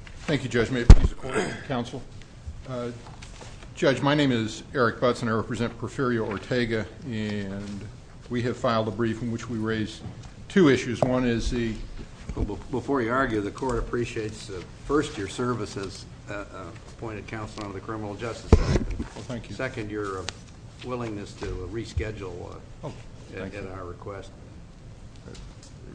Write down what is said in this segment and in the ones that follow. Thank you, Judge. May it please the Court and the Counsel. Judge, my name is Eric Butz and I represent Porfirio Ortega. We have filed a brief in which we raise two issues. One is the Before you argue, the Court appreciates, first, your service as appointed counsel under the Criminal Justice Act. Second, your willingness to reschedule at our request.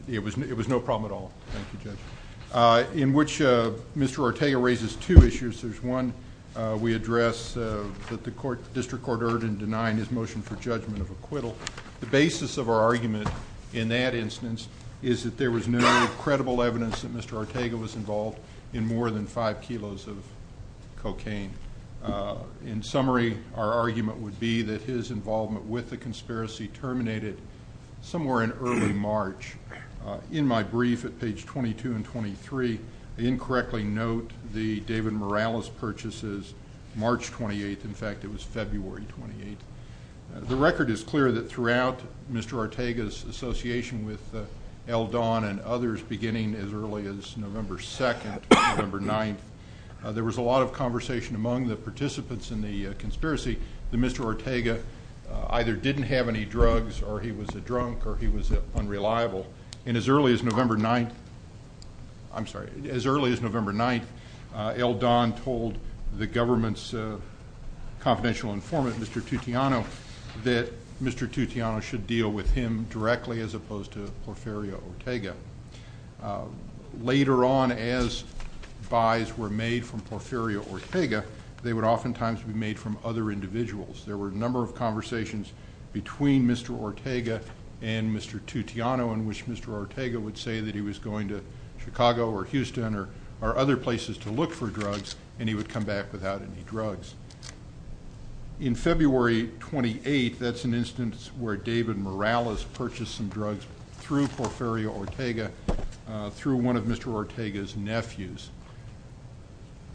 It was no problem at all. Thank you, Judge. In which Mr. Ortega raises two issues. There's one we address that the District Court erred in denying his motion for judgment of acquittal. The basis of our argument in that instance is that there was no credible evidence that Mr. Ortega was involved in more than five kilos of cocaine. In summary, our argument would be that his involvement with the conspiracy terminated somewhere in early March. In my brief at page 22 and 23, I incorrectly note the David Morales purchases March 28th. In fact, it was February 28th. The record is clear that throughout Mr. Ortega's association with Eldon and others beginning as early as November 2nd to November 9th, there was a lot of conversation among the participants in the conspiracy that Mr. Ortega either didn't have any drugs or he was a criminal. And as early as November 9th, I'm sorry, as early as November 9th, Eldon told the government's confidential informant, Mr. Tutiano, that Mr. Tutiano should deal with him directly as opposed to Porfirio Ortega. Later on, as buys were made from Porfirio Ortega, they would oftentimes be made from other individuals. There were a number of conversations between Mr. Ortega and Mr. Tutiano in which Mr. Ortega would say that he was going to Chicago or Houston or other places to look for drugs and he would come back without any drugs. In February 28th, that's an instance where David Morales purchased some drugs through Porfirio Ortega through one of Mr. Ortega's nephews.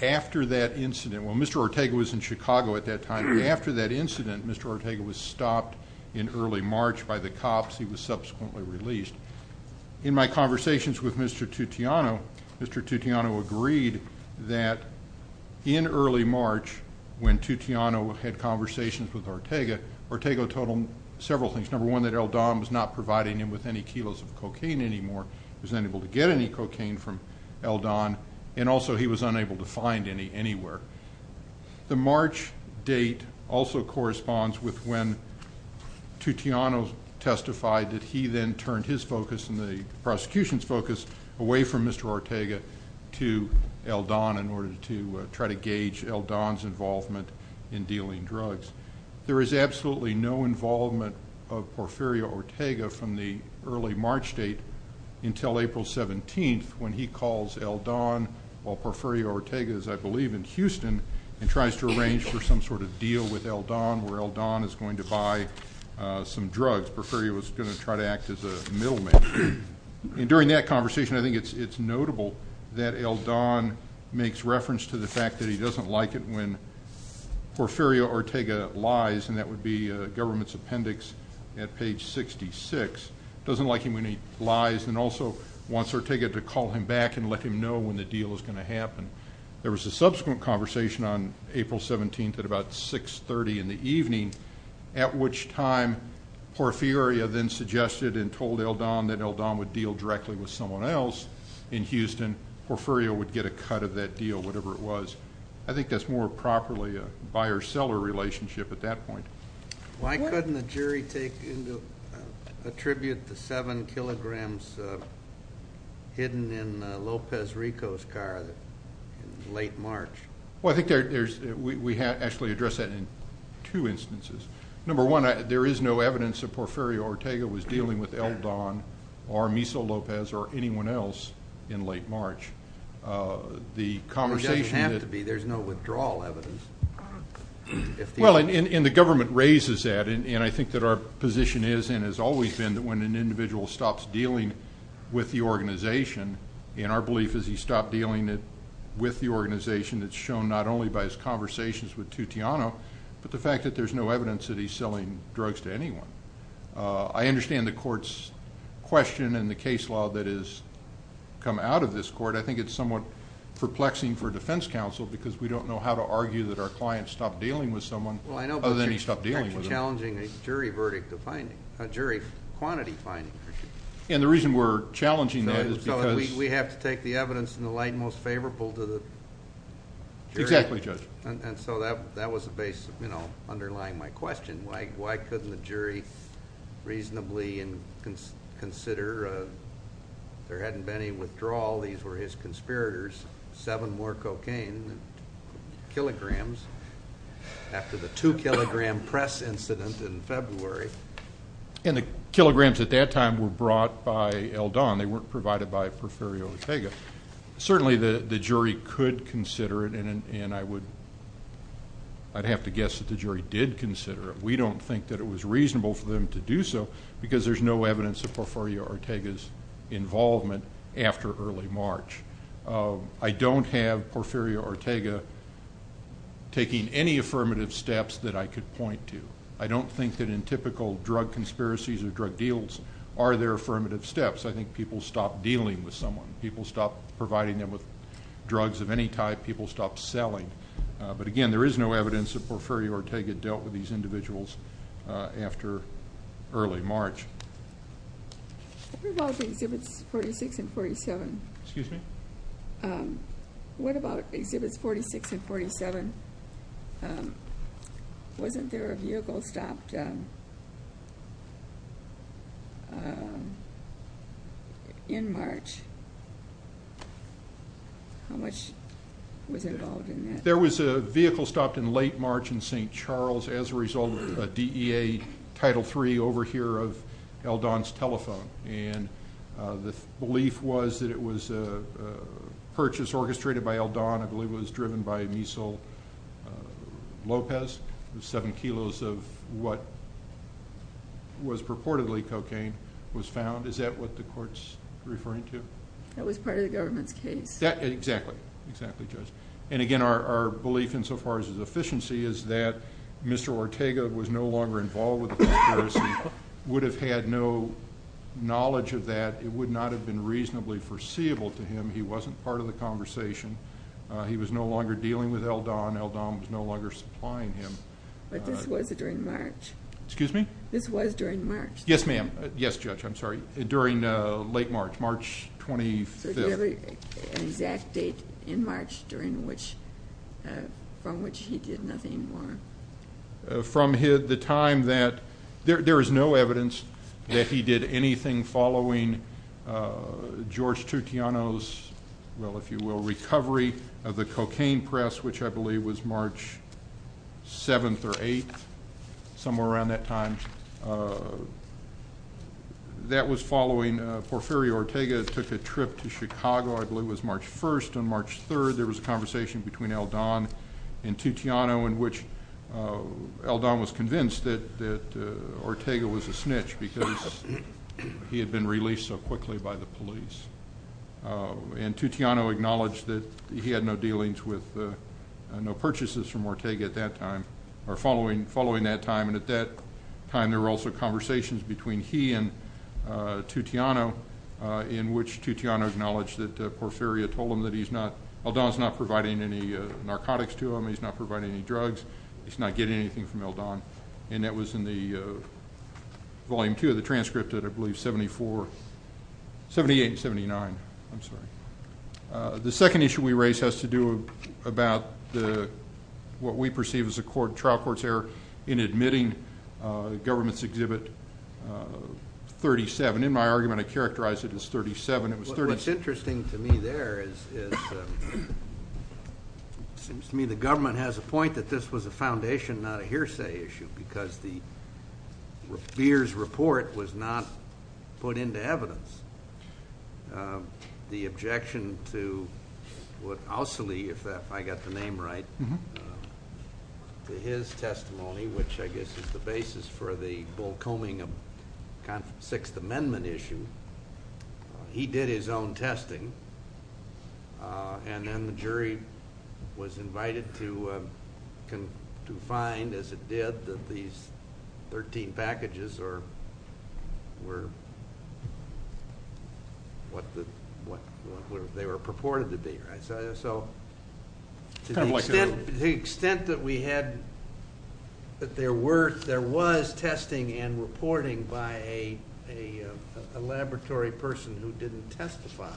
After that incident, well Mr. Ortega was in Chicago at that time. After that incident, Mr. Ortega was released. In my conversations with Mr. Tutiano, Mr. Tutiano agreed that in early March, when Tutiano had conversations with Ortega, Ortega told him several things. Number one, that Eldon was not providing him with any kilos of cocaine anymore. He was unable to get any cocaine from Eldon and also he was unable to find any anywhere. The March date also corresponds with when Tutiano testified that he then turned his focus and the prosecution's focus away from Mr. Ortega to Eldon in order to try to gauge Eldon's involvement in dealing drugs. There is absolutely no involvement of Porfirio Ortega from the early March date until April 17th when he calls Eldon while Porfirio Ortega is, I believe, in Houston and tries to arrange for some sort of deal with Eldon where Eldon is going to buy some drugs. Porfirio was going to try to act as a middleman. And during that conversation, I think it's notable that Eldon makes reference to the fact that he doesn't like it when Porfirio Ortega lies, and that would be government's appendix at page 66, doesn't like him when he lies and also wants Ortega to call him back and let him know when the deal is going to happen. There was a subsequent conversation on April 17th at about 630 in the evening at which time Porfirio then suggested and told Eldon that Eldon would deal directly with someone else in Houston. Porfirio would get a cut of that deal, whatever it was. I think that's more properly a buyer-seller relationship at that point. Why couldn't the jury take into attribute the 7 kilograms hidden in Lopez Rico's car in late March? Well, I think we actually address that in two instances. Number one, there is no evidence that Porfirio Ortega was dealing with Eldon or Miso Lopez or anyone else in late March. There doesn't have to be. There's no withdrawal evidence. Well, and the government raises that, and I think that our position is and has always been that when an individual stops dealing with the organization, and our belief is he stopped dealing with the organization, it's shown not only by his conversations with Tutiano, but the fact that there's no evidence that he's selling drugs to anyone. I understand the court's question and the case law that has come out of this court. I think it's somewhat perplexing for defense counsel because we don't know how to argue that our client stopped dealing with someone other than he stopped dealing with them. Well, I know, but you're challenging a jury quantity finding. And the reason we're challenging that is because... We find most favorable to the jury. Exactly, Judge. And so that was underlying my question. Why couldn't the jury reasonably consider if there hadn't been any withdrawal, these were his conspirators, seven more cocaine, kilograms, after the two-kilogram press incident in February. And the kilograms at that time were brought by Eldon. They weren't provided by... Certainly the jury could consider it, and I would... I'd have to guess that the jury did consider it. We don't think that it was reasonable for them to do so because there's no evidence of Porfirio Ortega's involvement after early March. I don't have Porfirio Ortega taking any affirmative steps that I could point to. I don't think that in typical drug conspiracies or drug deals are there affirmative steps. I think people stopped dealing with someone. People stopped providing them with drugs of any type. People stopped selling. But again, there is no evidence that Porfirio Ortega dealt with these individuals after early March. What about Exhibits 46 and 47? Excuse me? What about Exhibits 46 and 47? Wasn't there a vehicle stopped in March? How much was involved in that? There was a vehicle stopped in late March in St. Charles as a result of a DEA Title III overhear of Eldon's telephone. And the belief was that it was a purchase orchestrated by Eldon. I believe it was driven by Misal Lopez. Seven kilos of what was purportedly cocaine was found. Is that what the court's referring to? That was part of the government's case. Exactly. And again, our belief insofar as efficiency is that Mr. Ortega was no longer involved with the conspiracy, would have had no knowledge of that. It would not have been reasonably foreseeable to him. He wasn't part of the conversation. He was no longer dealing with Eldon. Eldon was no longer supplying him. But this was during March? Excuse me? This was during March? Yes, ma'am. Yes, Judge, I'm sorry. During late March. March 25th. So there was an exact date in March from which he did nothing more? From the time that there is no evidence that he did anything following George Tutiano's, well, if you will, recovery of the cocaine press, which I believe was March 7th or 8th, somewhere around that time. That was following Porfirio Ortega took a trip to Chicago. I believe it was March 1st. On March 3rd there was a conversation between Eldon and Tutiano in which Eldon was convinced that Ortega was a snitch because he had been released so quickly by the police. And Tutiano acknowledged that he had no dealings with, no purchases from Ortega at that time, or following that time. And at that time there were also conversations between he and Tutiano in which Tutiano acknowledged that Porfirio told him that he's not, Eldon's not providing any narcotics to him. He's not providing any drugs. He's not getting anything from Eldon. And that was in the volume 2 of the transcript that I believe 74 78 and 79. I'm sorry. The second issue we raise has to do about what we perceive as a trial court's error in admitting government's exhibit 37. In my argument I characterized it as 37. It was 37. What's interesting to me there is it seems to me the government has a point that this was a foundation not a hearsay issue because the beer's report was not put into evidence. The objection to what Ousley, if I got the name right, to his testimony, which I guess is the basis for the bullcombing of 6th Amendment issue, he did his own testing and then the jury was invited to find, as it did, that these 13 packages were what they were purported to be. So to the extent that we had, that there was testing and reporting by a laboratory person who didn't testify,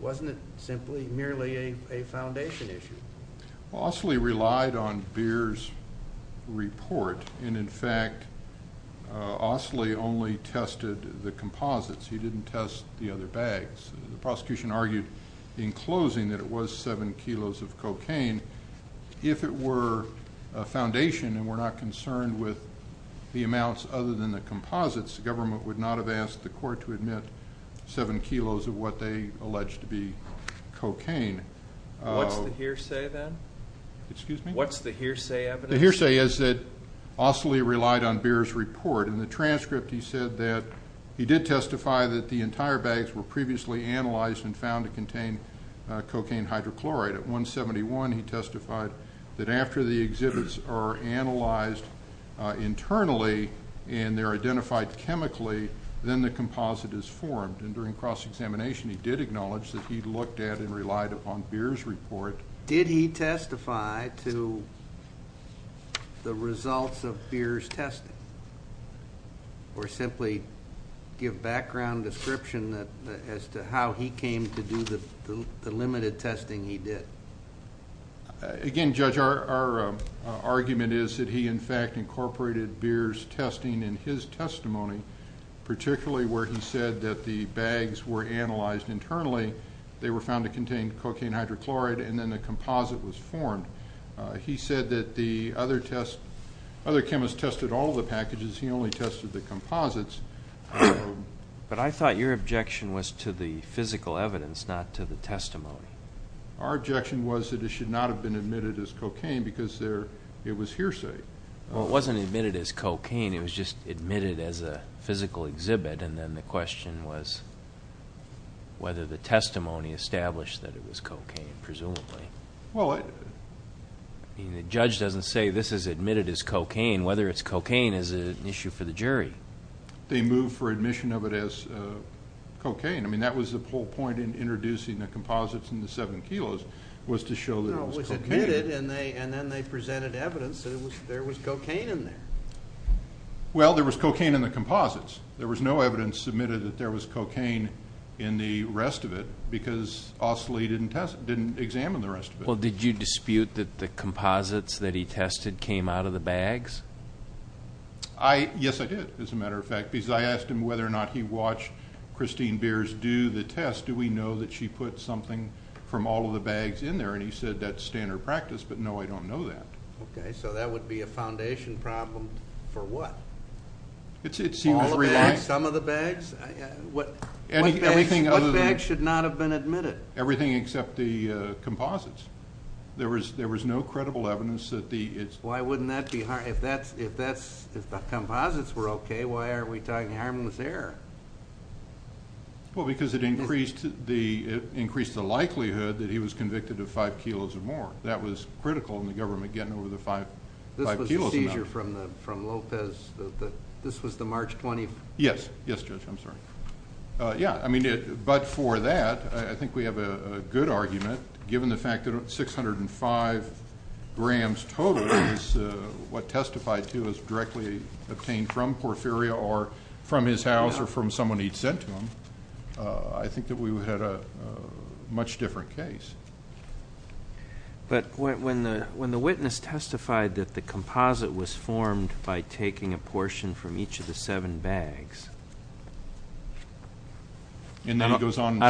wasn't it simply merely a foundation issue? Well, Ousley relied on beer's report and in fact Ousley only tested the composites. He didn't test the other bags. The prosecution argued in closing that it was 7 kilos of cocaine. If it were a foundation and were not concerned with the amounts other than the composites, the government would not have asked the court to admit 7 kilos of what they alleged to be cocaine. What's the hearsay then? Excuse me? What's the hearsay evidence? The hearsay is that Ousley relied on beer's report. In the transcript he said that he did testify that the entire bags were previously analyzed and found to contain cocaine hydrochloride. At 171 he testified that after the exhibits are analyzed internally and they're identified chemically, then the composite is formed. And during cross-examination he did acknowledge that he looked at and relied upon beer's report. Did he testify to the results of beer's testing? Or simply give background description as to how he came to do the limited testing he did? Again, Judge, our argument is that he in fact incorporated beer's testing in his testimony, particularly where he said that the bags were analyzed internally, they were found to contain cocaine hydrochloride, and then the composite was formed. He said that the other chemists tested all the packages, he only tested the composites. But I thought your objection was to the physical evidence, not to the testimony. Our objection was that it should not have been admitted as cocaine because it was hearsay. Well, it wasn't admitted as cocaine, it was just admitted as a physical exhibit, and then the question was whether the testimony established that it was cocaine, presumably. The judge doesn't say this is admitted as cocaine. Whether it's cocaine is an issue for the jury. They moved for admission of it as cocaine. I mean, that was the whole point in introducing the composites and the seven kilos, was to show that it was cocaine. No, it was admitted, and then they presented evidence that there was cocaine in there. Well, there was cocaine in the composites. There was no evidence submitted that there was cocaine in the rest of it because Ostley didn't examine the rest of it. Well, did you dispute that the composites that he tested came out of the bags? Yes, I did, as a matter of fact, because I asked him whether or not he watched Christine Beers do the test. Do we know that she put something from all of the bags in there? And he said that's standard practice, but no, I don't know that. Okay, so that would be a foundation problem for what? All of the bags? Some of the bags? What bags should not have been admitted? Everything except the composites. There was no credible evidence that the Why wouldn't that be? If the composites were okay, why are we talking harmless air? Well, because it increased the likelihood that he was convicted of five kilos or more. That was critical in the government, getting over the five kilos The seizure from Lopez, this was the March 20th? Yes, yes, Judge, I'm sorry. Yeah, I mean, but for that I think we have a good argument, given the fact that 605 grams total is what testified to was directly obtained from Porfirio or from his house or from someone he'd sent to him. I think that we had a much different case. But when the witness testified that the composite was formed by taking a portion from each of the seven bags I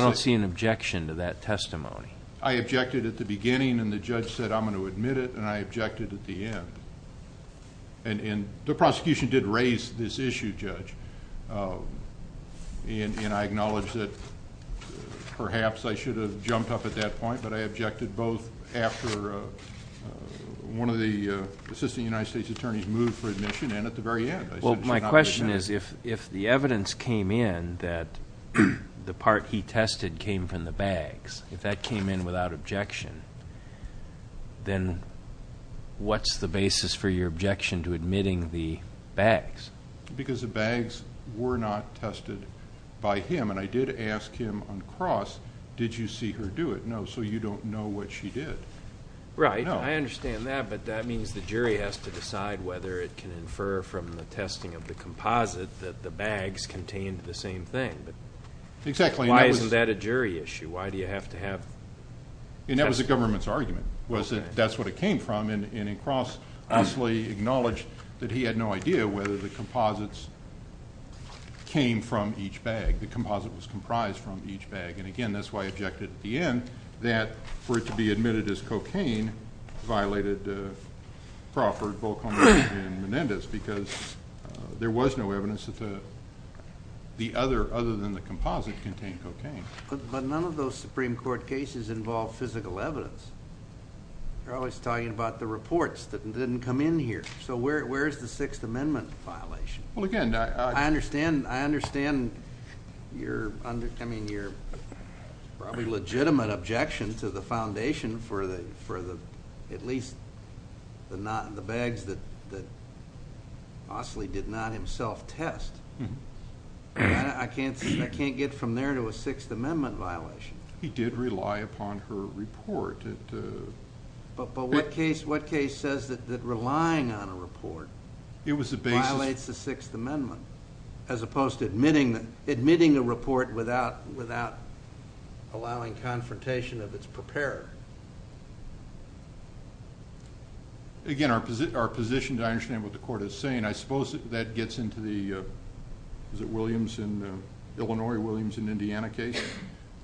don't see an objection to that testimony. I objected at the beginning, and the judge said I'm going to admit it, and I objected at the end. And the prosecution did raise this issue, Judge. And I acknowledge that perhaps I should have jumped up at that point, but I objected both after one of the assistant United States attorneys moved for admission and at the very end. Well, my question is, if the evidence came in that the part he tested came from the bags, if that came in without objection then what's the basis for your objection to admitting the bags? Because the bags were not tested by him, and I did ask him on cross, did you see her do it? No, so you don't know what she did. Right, I understand that, but that means the jury has to decide whether it can infer from the testing of the composite that the bags contained the same thing. Exactly. Why isn't that a jury issue? Why do you have to have And that was the government's argument, was that that's what it came from. And in cross I honestly acknowledge that he had no idea whether the composites came from each bag. The composite was comprised from each bag. And again, that's why I objected at the end that for it to be admitted as cocaine violated Crawford, Volkhoff, and Menendez because there was no evidence that the other, other than the composite contained cocaine. But none of those Supreme Court cases involve physical evidence. They're always talking about the reports that didn't come in here. So where's the Sixth Amendment violation? Well, again, I understand I understand your probably legitimate objection to the foundation for the at least the bags that Mosley did not himself test. I can't get from there to a Sixth Amendment violation. He did rely upon her report. But what case says that relying on a report violates the admitting a report without allowing confrontation of its preparer? Again, our position, I understand what the Court is saying. I suppose that gets into the Illinois, Williams, and Indiana case.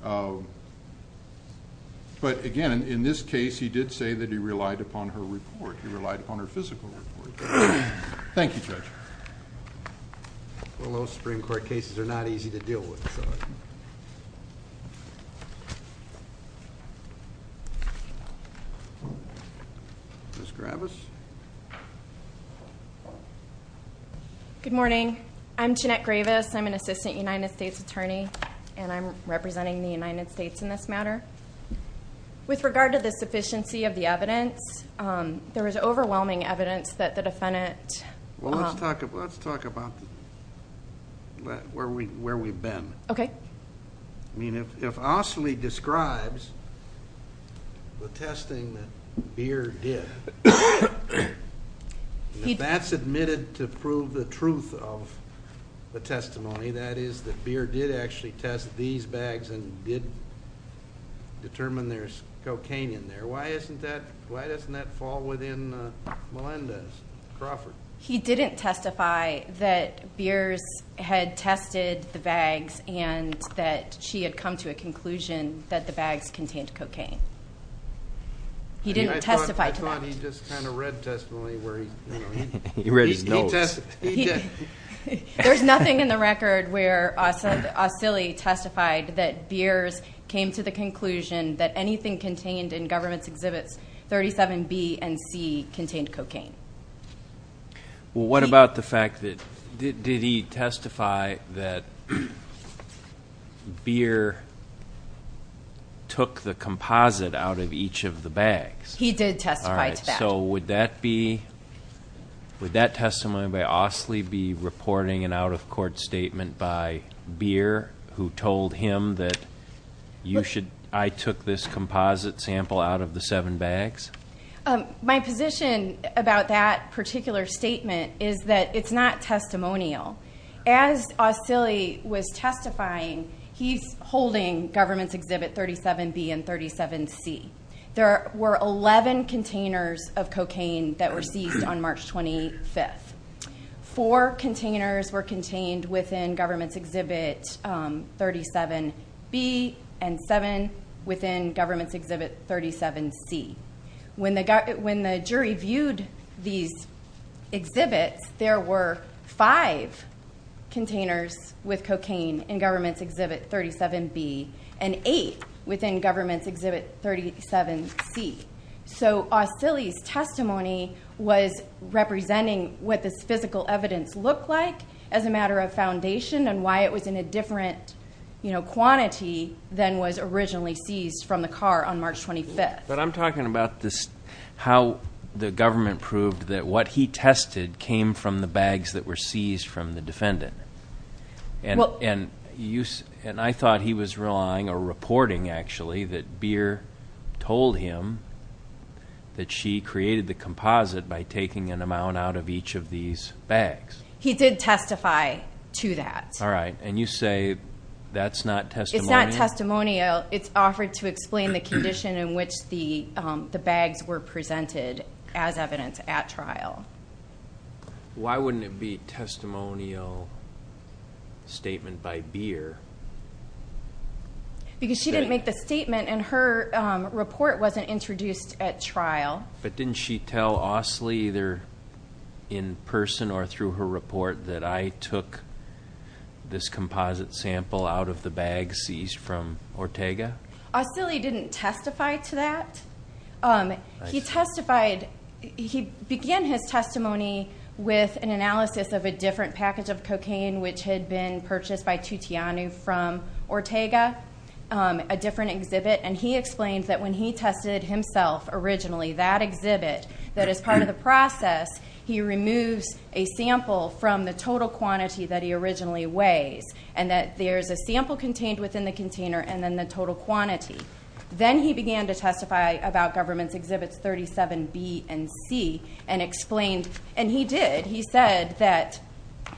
But again, in this case, he did say that he relied upon her Well, those Supreme Court cases are not easy to deal with. Ms. Gravis? Good morning. I'm Jeanette Gravis. I'm an Assistant United States Attorney, and I'm representing the United States in this matter. With regard to the sufficiency of the evidence, there is overwhelming evidence that the defendant Well, let's talk about where we've been. If Osley describes the testing that Beer did, if that's admitted to prove the truth of the testimony, that is that Beer did actually test these bags and did determine there's cocaine in there, why doesn't that fall within Melendez Crawford? He didn't testify that Beer had tested the bags and that she had come to a conclusion that the bags contained cocaine. He didn't testify to that. I thought he just kind of read the testimony. There's nothing in the record where Osley testified that Beer came to the conclusion that anything contained in the government's exhibits 37B and C contained cocaine. Well, what about the fact that, did he testify that Beer took the composite out of each of the bags? He did testify to that. Would that testimony by Osley be reporting an out-of-court statement by Beer, who told him that I took this composite sample out of the seven bags? My position about that particular statement is that it's not testimonial. As Osley was testifying, he's holding government's exhibit 37B and 37C. There were 11 containers of cocaine that were seized on March 25th. Four containers were contained within government's exhibit 37B and seven within government's exhibit 37C. When the jury viewed these exhibits, there were five containers with cocaine in government's exhibit 37B and eight within government's exhibit 37C. Osley's testimony was representing what this physical evidence looked like as a matter of foundation and why it was in a different quantity than was originally seized from the car on March 25th. But I'm talking about how the government proved that what he tested came from the bags that were seized from the defendant. And I thought he was relying or reporting, actually, that Beer told him that she created the composite by taking an amount out of each of the bags. He did testify to that. And you say that's not testimonial? It's not testimonial. It's offered to explain the condition in which the bags were presented as evidence at trial. Why wouldn't it be a testimonial statement by Beer? Because she didn't make the statement and her report wasn't introduced at trial. But didn't she tell Osley either in person or through her report that I took this composite sample out of the bags seized from Ortega? Osley didn't testify to that. He testified he began his testimony with an analysis of a different package of cocaine which had been purchased by Tutiano from Ortega, a different exhibit, and he explained that when he purchased that exhibit, that as part of the process, he removes a sample from the total quantity that he originally weighs. And that there's a sample contained within the container and then the total quantity. Then he began to testify about Government's Exhibits 37B and C and explained, and he did, he said that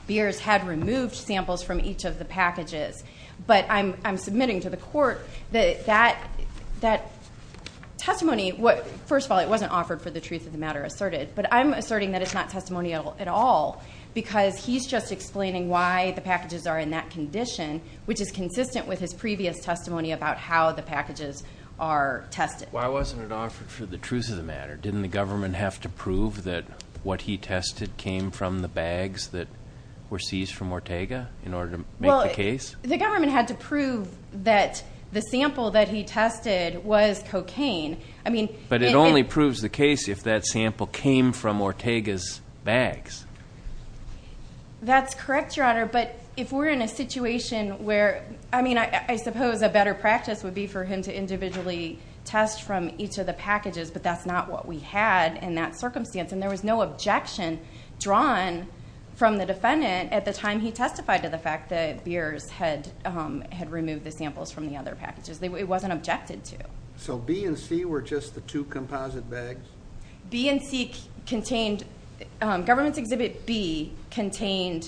Beer had removed samples from each of the packages. But I'm submitting to the Court that that testimony, first of all, it wasn't offered for the truth of the matter asserted, but I'm asserting that it's not testimonial at all because he's just explaining why the packages are in that condition which is consistent with his previous testimony about how the packages are tested. Why wasn't it offered for the truth of the matter? Didn't the Government have to prove that what he tested came from the bags that were seized from Ortega in order to make the case? Well, the Government had to prove that the sample that he tested was cocaine. But it only proves the case if that sample came from Ortega's bags. That's correct, Your Honor, but if we're in a situation where, I mean, I suppose a better practice would be for him to individually test from each of the packages, but that's not what we had in that circumstance. And there was no objection drawn from the defendant at the time he testified to the fact that the samples from the other packages, it wasn't objected to. So B and C were just the two composite bags? B and C contained Government's Exhibit B contained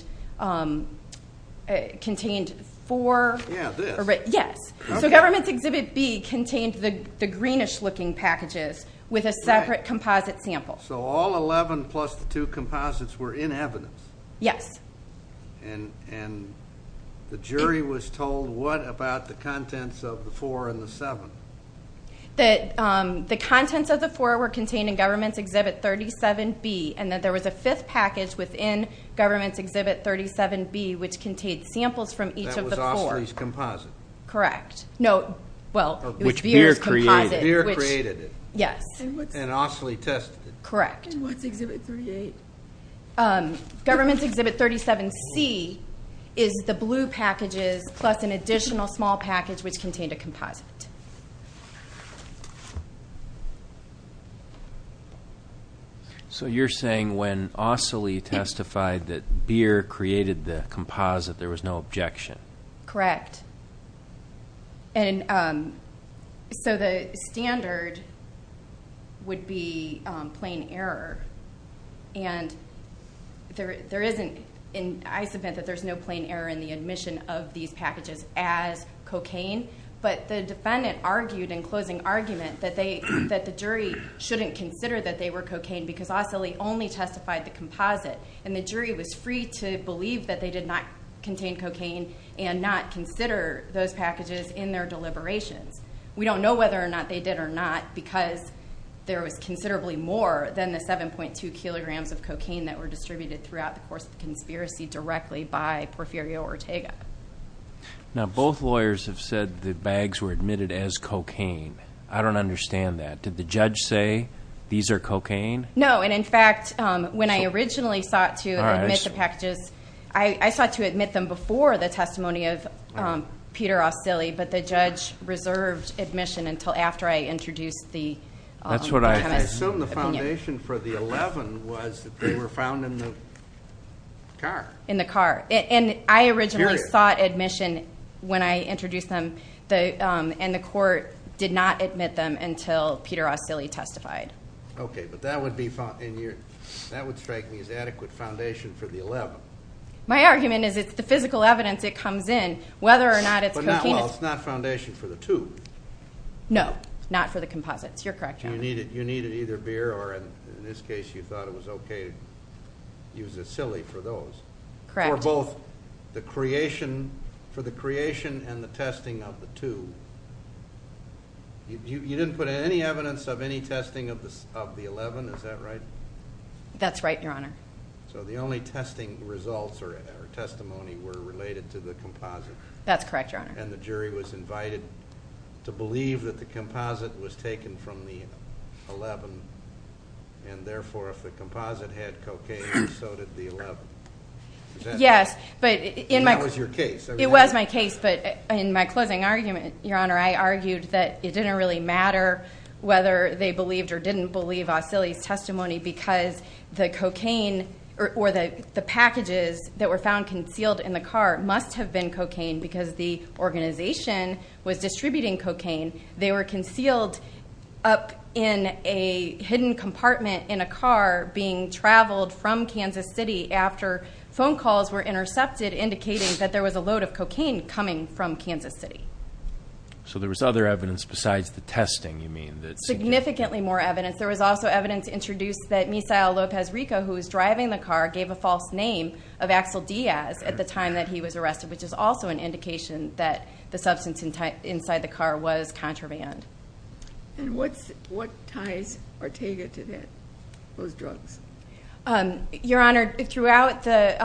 four. Yeah, this. Yes. So Government's Exhibit B contained the greenish looking packages with a separate composite sample. So all 11 plus the two composites were in evidence? Yes. And the jury was told what about the contents of the four and the seven? The contents of the four were contained in Government's Exhibit 37B and that there was a fifth package within Government's Exhibit 37B which contained samples from each of the four. That was Ostley's composite? Correct. No, well, it was Beer's composite. Beer created it. Yes. And Ostley tested it. Correct. And what's Exhibit 38? Government's Exhibit 37C is the blue packages plus an additional small package which contained a composite. So you're saying when Ostley testified that Beer created the composite there was no objection? Correct. And so the standard would be plain error and there isn't, I submit that there's no plain error in the admission of these packages as cocaine but the defendant argued in closing argument that the jury shouldn't consider that they were cocaine because Ostley only testified the composite and the jury was free to believe that they did not contain cocaine and not consider those packages in their deliberations. We don't know whether or not they did or not because there was considerably more than the 7.2 kilograms of cocaine that were distributed throughout the course of the conspiracy directly by Porfirio Ortega. Now both lawyers have said the bags were admitted as cocaine. I don't understand that. Did the judge say these are cocaine? No, and in fact when I originally sought to admit the packages, I sought to admit them before the testimony of Peter Ostley but the judge reserved admission until after I introduced the opinion. I assume the foundation for the 11 was that they were found in the car. In the car. And I originally sought admission when I introduced them and the court did not admit them until Peter Ostley testified. Okay, but that would strike me as adequate foundation for the 11. My argument is it's the physical evidence that comes in whether or not it's cocaine. Well, it's not foundation for the two. No, not for the composites. You're correct, Your Honor. You needed either beer or in this case you thought it was okay to use a silly for those. Correct. For both the creation and the testing of the two. You didn't put any evidence of any testing of the 11, is that right? That's right, Your Honor. So the only testing results or testimony were related to the composite. That's correct, Your Honor. And the jury was invited to believe that the composite was taken from the 11 and therefore if the composite had cocaine so did the 11. Yes, but that was your case. It was my case, but in my closing argument Your Honor, I argued that it didn't really matter whether they believed or didn't believe Ostley's testimony because the cocaine or the packages that were found concealed in the car must have been cocaine because the organization was distributing cocaine. They were concealed up in a hidden compartment in a car being traveled from Kansas City after phone calls were intercepted indicating that there was a load of cocaine coming from Kansas City. So there was other evidence besides the testing, you mean? Significantly more evidence. There was also evidence introduced that Misael Lopez Rico, who was driving the car, gave a false name of Axel Diaz at the time that he was arrested, which is also an indication that the substance inside the car was contraband. And what ties Ortega to those drugs? Your Honor, throughout the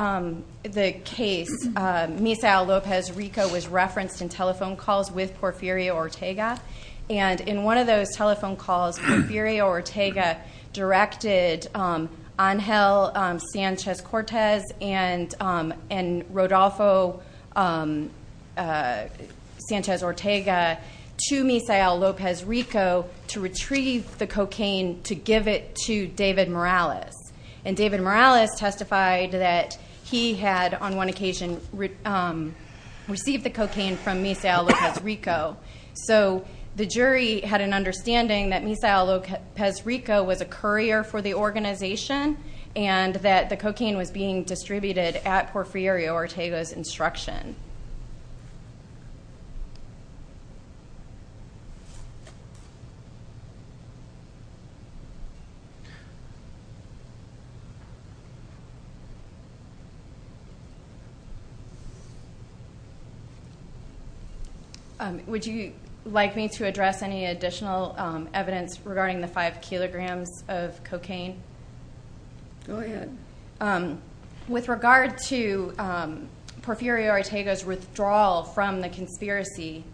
case Misael Lopez Rico was referenced in telephone calls with Porfirio Ortega and in one of those telephone calls Porfirio Ortega directed Angel Sanchez-Cortez and Rodolfo Sanchez-Ortega to Misael Lopez Rico to retrieve the cocaine to give it to David Morales. And David Morales testified that he had on one occasion received the cocaine from Misael Lopez Rico. So the jury had an understanding that Misael Lopez Rico was a courier for the organization and that the cocaine was being distributed at Porfirio Ortega's instruction. Would you like me to address any additional evidence regarding the five kilograms of cocaine? Go ahead. With regard to Porfirio Ortega's withdrawal from the conspiracy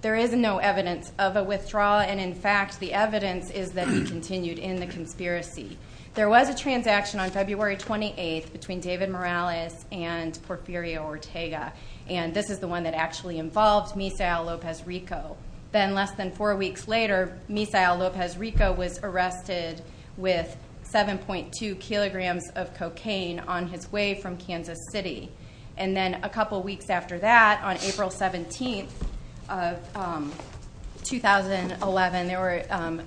there is no evidence of a withdrawal and in fact the evidence is that he continued in the conspiracy. There was a transaction on February 28th between David Morales and Porfirio Ortega and this is the one that actually involved Misael Lopez Rico. Then less than four weeks later Misael Lopez Rico was arrested with 7.2 kilograms of cocaine on his way from Kansas City. And then a couple weeks after that on April 17th of 2011 there were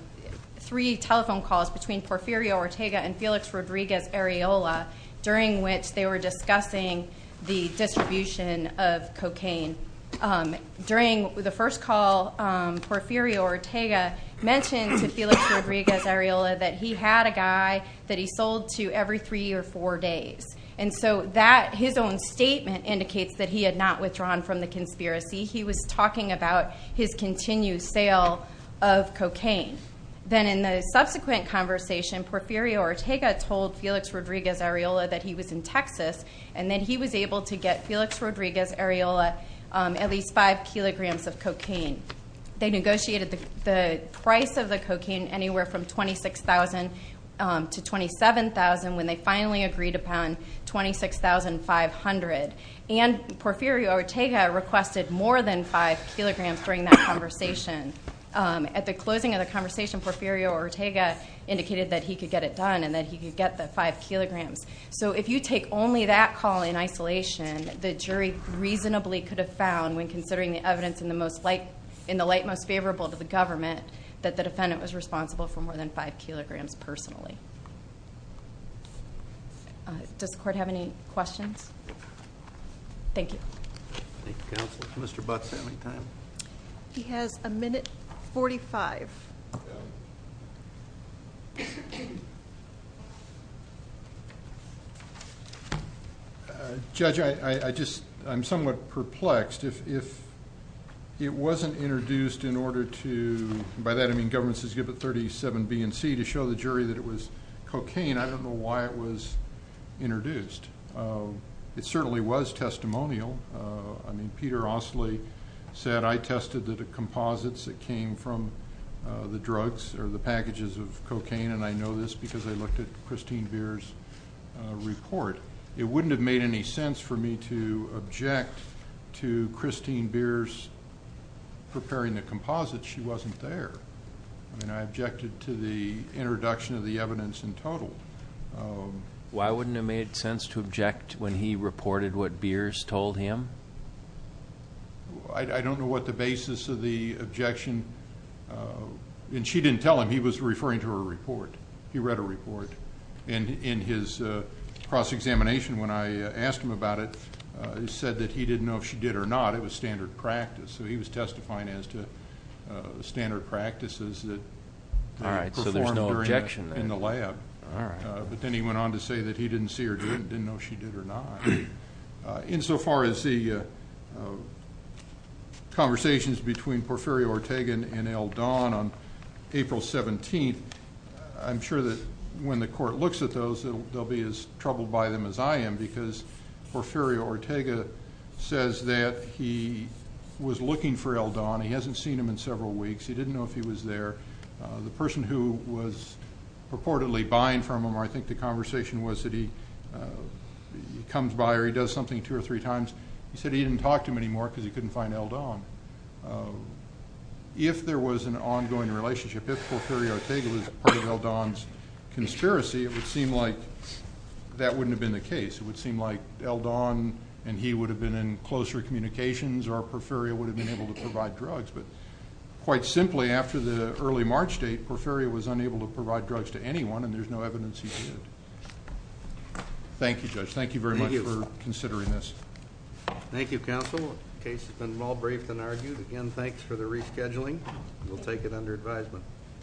three telephone calls between Porfirio Ortega and Felix Rodriguez Arriola during which they were discussing the distribution of cocaine. During the first call Porfirio Ortega mentioned to Felix Rodriguez Arriola that he had a guy that he sold to every three or four days. And so that, his own statement indicates that he had not withdrawn from the conspiracy. He was talking about his continued sale of cocaine. Then in the subsequent conversation Porfirio Ortega told Felix Rodriguez Arriola that he was in Texas and that he was able to get Felix Rodriguez Arriola at least five kilograms of cocaine. They negotiated the price of the cocaine anywhere from $26,000 to $27,000 when they finally agreed upon $26,500. And Porfirio Ortega requested more than five kilograms during that conversation. At the closing of the conversation Porfirio Ortega indicated that he could get it done and that he could get the five kilograms. So if you take only that call in isolation the jury reasonably could have found when considering the evidence in the light most favorable to the government that the defendant was responsible for more than five kilograms personally. Does the court have any questions? Thank you. He has a minute forty-five. Judge, I'm somewhat perplexed. If it wasn't introduced in order to, by that I mean government says give it 37 B and C to show the jury that it was cocaine, I don't know why it was introduced. It certainly was testimonial. I mean Peter Ostley said I tested the composites that came from the drugs or the packages of cocaine and I know this because I looked at Christine Beer's report. It wouldn't have made any sense for me to object to Christine Beer's preparing the composite she wasn't there. I mean I objected to the introduction of the evidence in total. Why wouldn't it have made sense to object when he reported what Beer's told him? I don't know what the basis of the objection and she didn't tell him he was referring to her report. He read her report and in his cross-examination when I asked him about it, he said that he didn't know if she did or not. It was standard practice. So he was testifying as to standard practices that were performed in the lab. But then he went on to say that he didn't see her doing it, didn't know if she did or not. Insofar as the conversations between Porfirio Ortega and El Don on April 17th, I'm sure that when the court looks at those, they'll be as troubled by them as I am because Porfirio Ortega says that he was looking for El Don. He hasn't seen him in several weeks. He didn't know if he was there. The person who was purportedly buying from him, I think the conversation was that he comes by or he does something two or three times. He said he didn't talk to him anymore because he couldn't find El Don. If there was an ongoing relationship, if Porfirio Ortega was part of El Don's conspiracy, it would seem like that wouldn't have been the case. It would seem like El Don and he would have been in closer communications or Porfirio would have been able to provide drugs. But quite simply, after the early March date, Porfirio was unable to provide drugs to anyone and there's no evidence he did. Thank you, Judge. Thank you very much for considering this. Thank you, Counsel. The case has been well briefed and argued. Again, thanks for the rescheduling. We'll take it under advisement.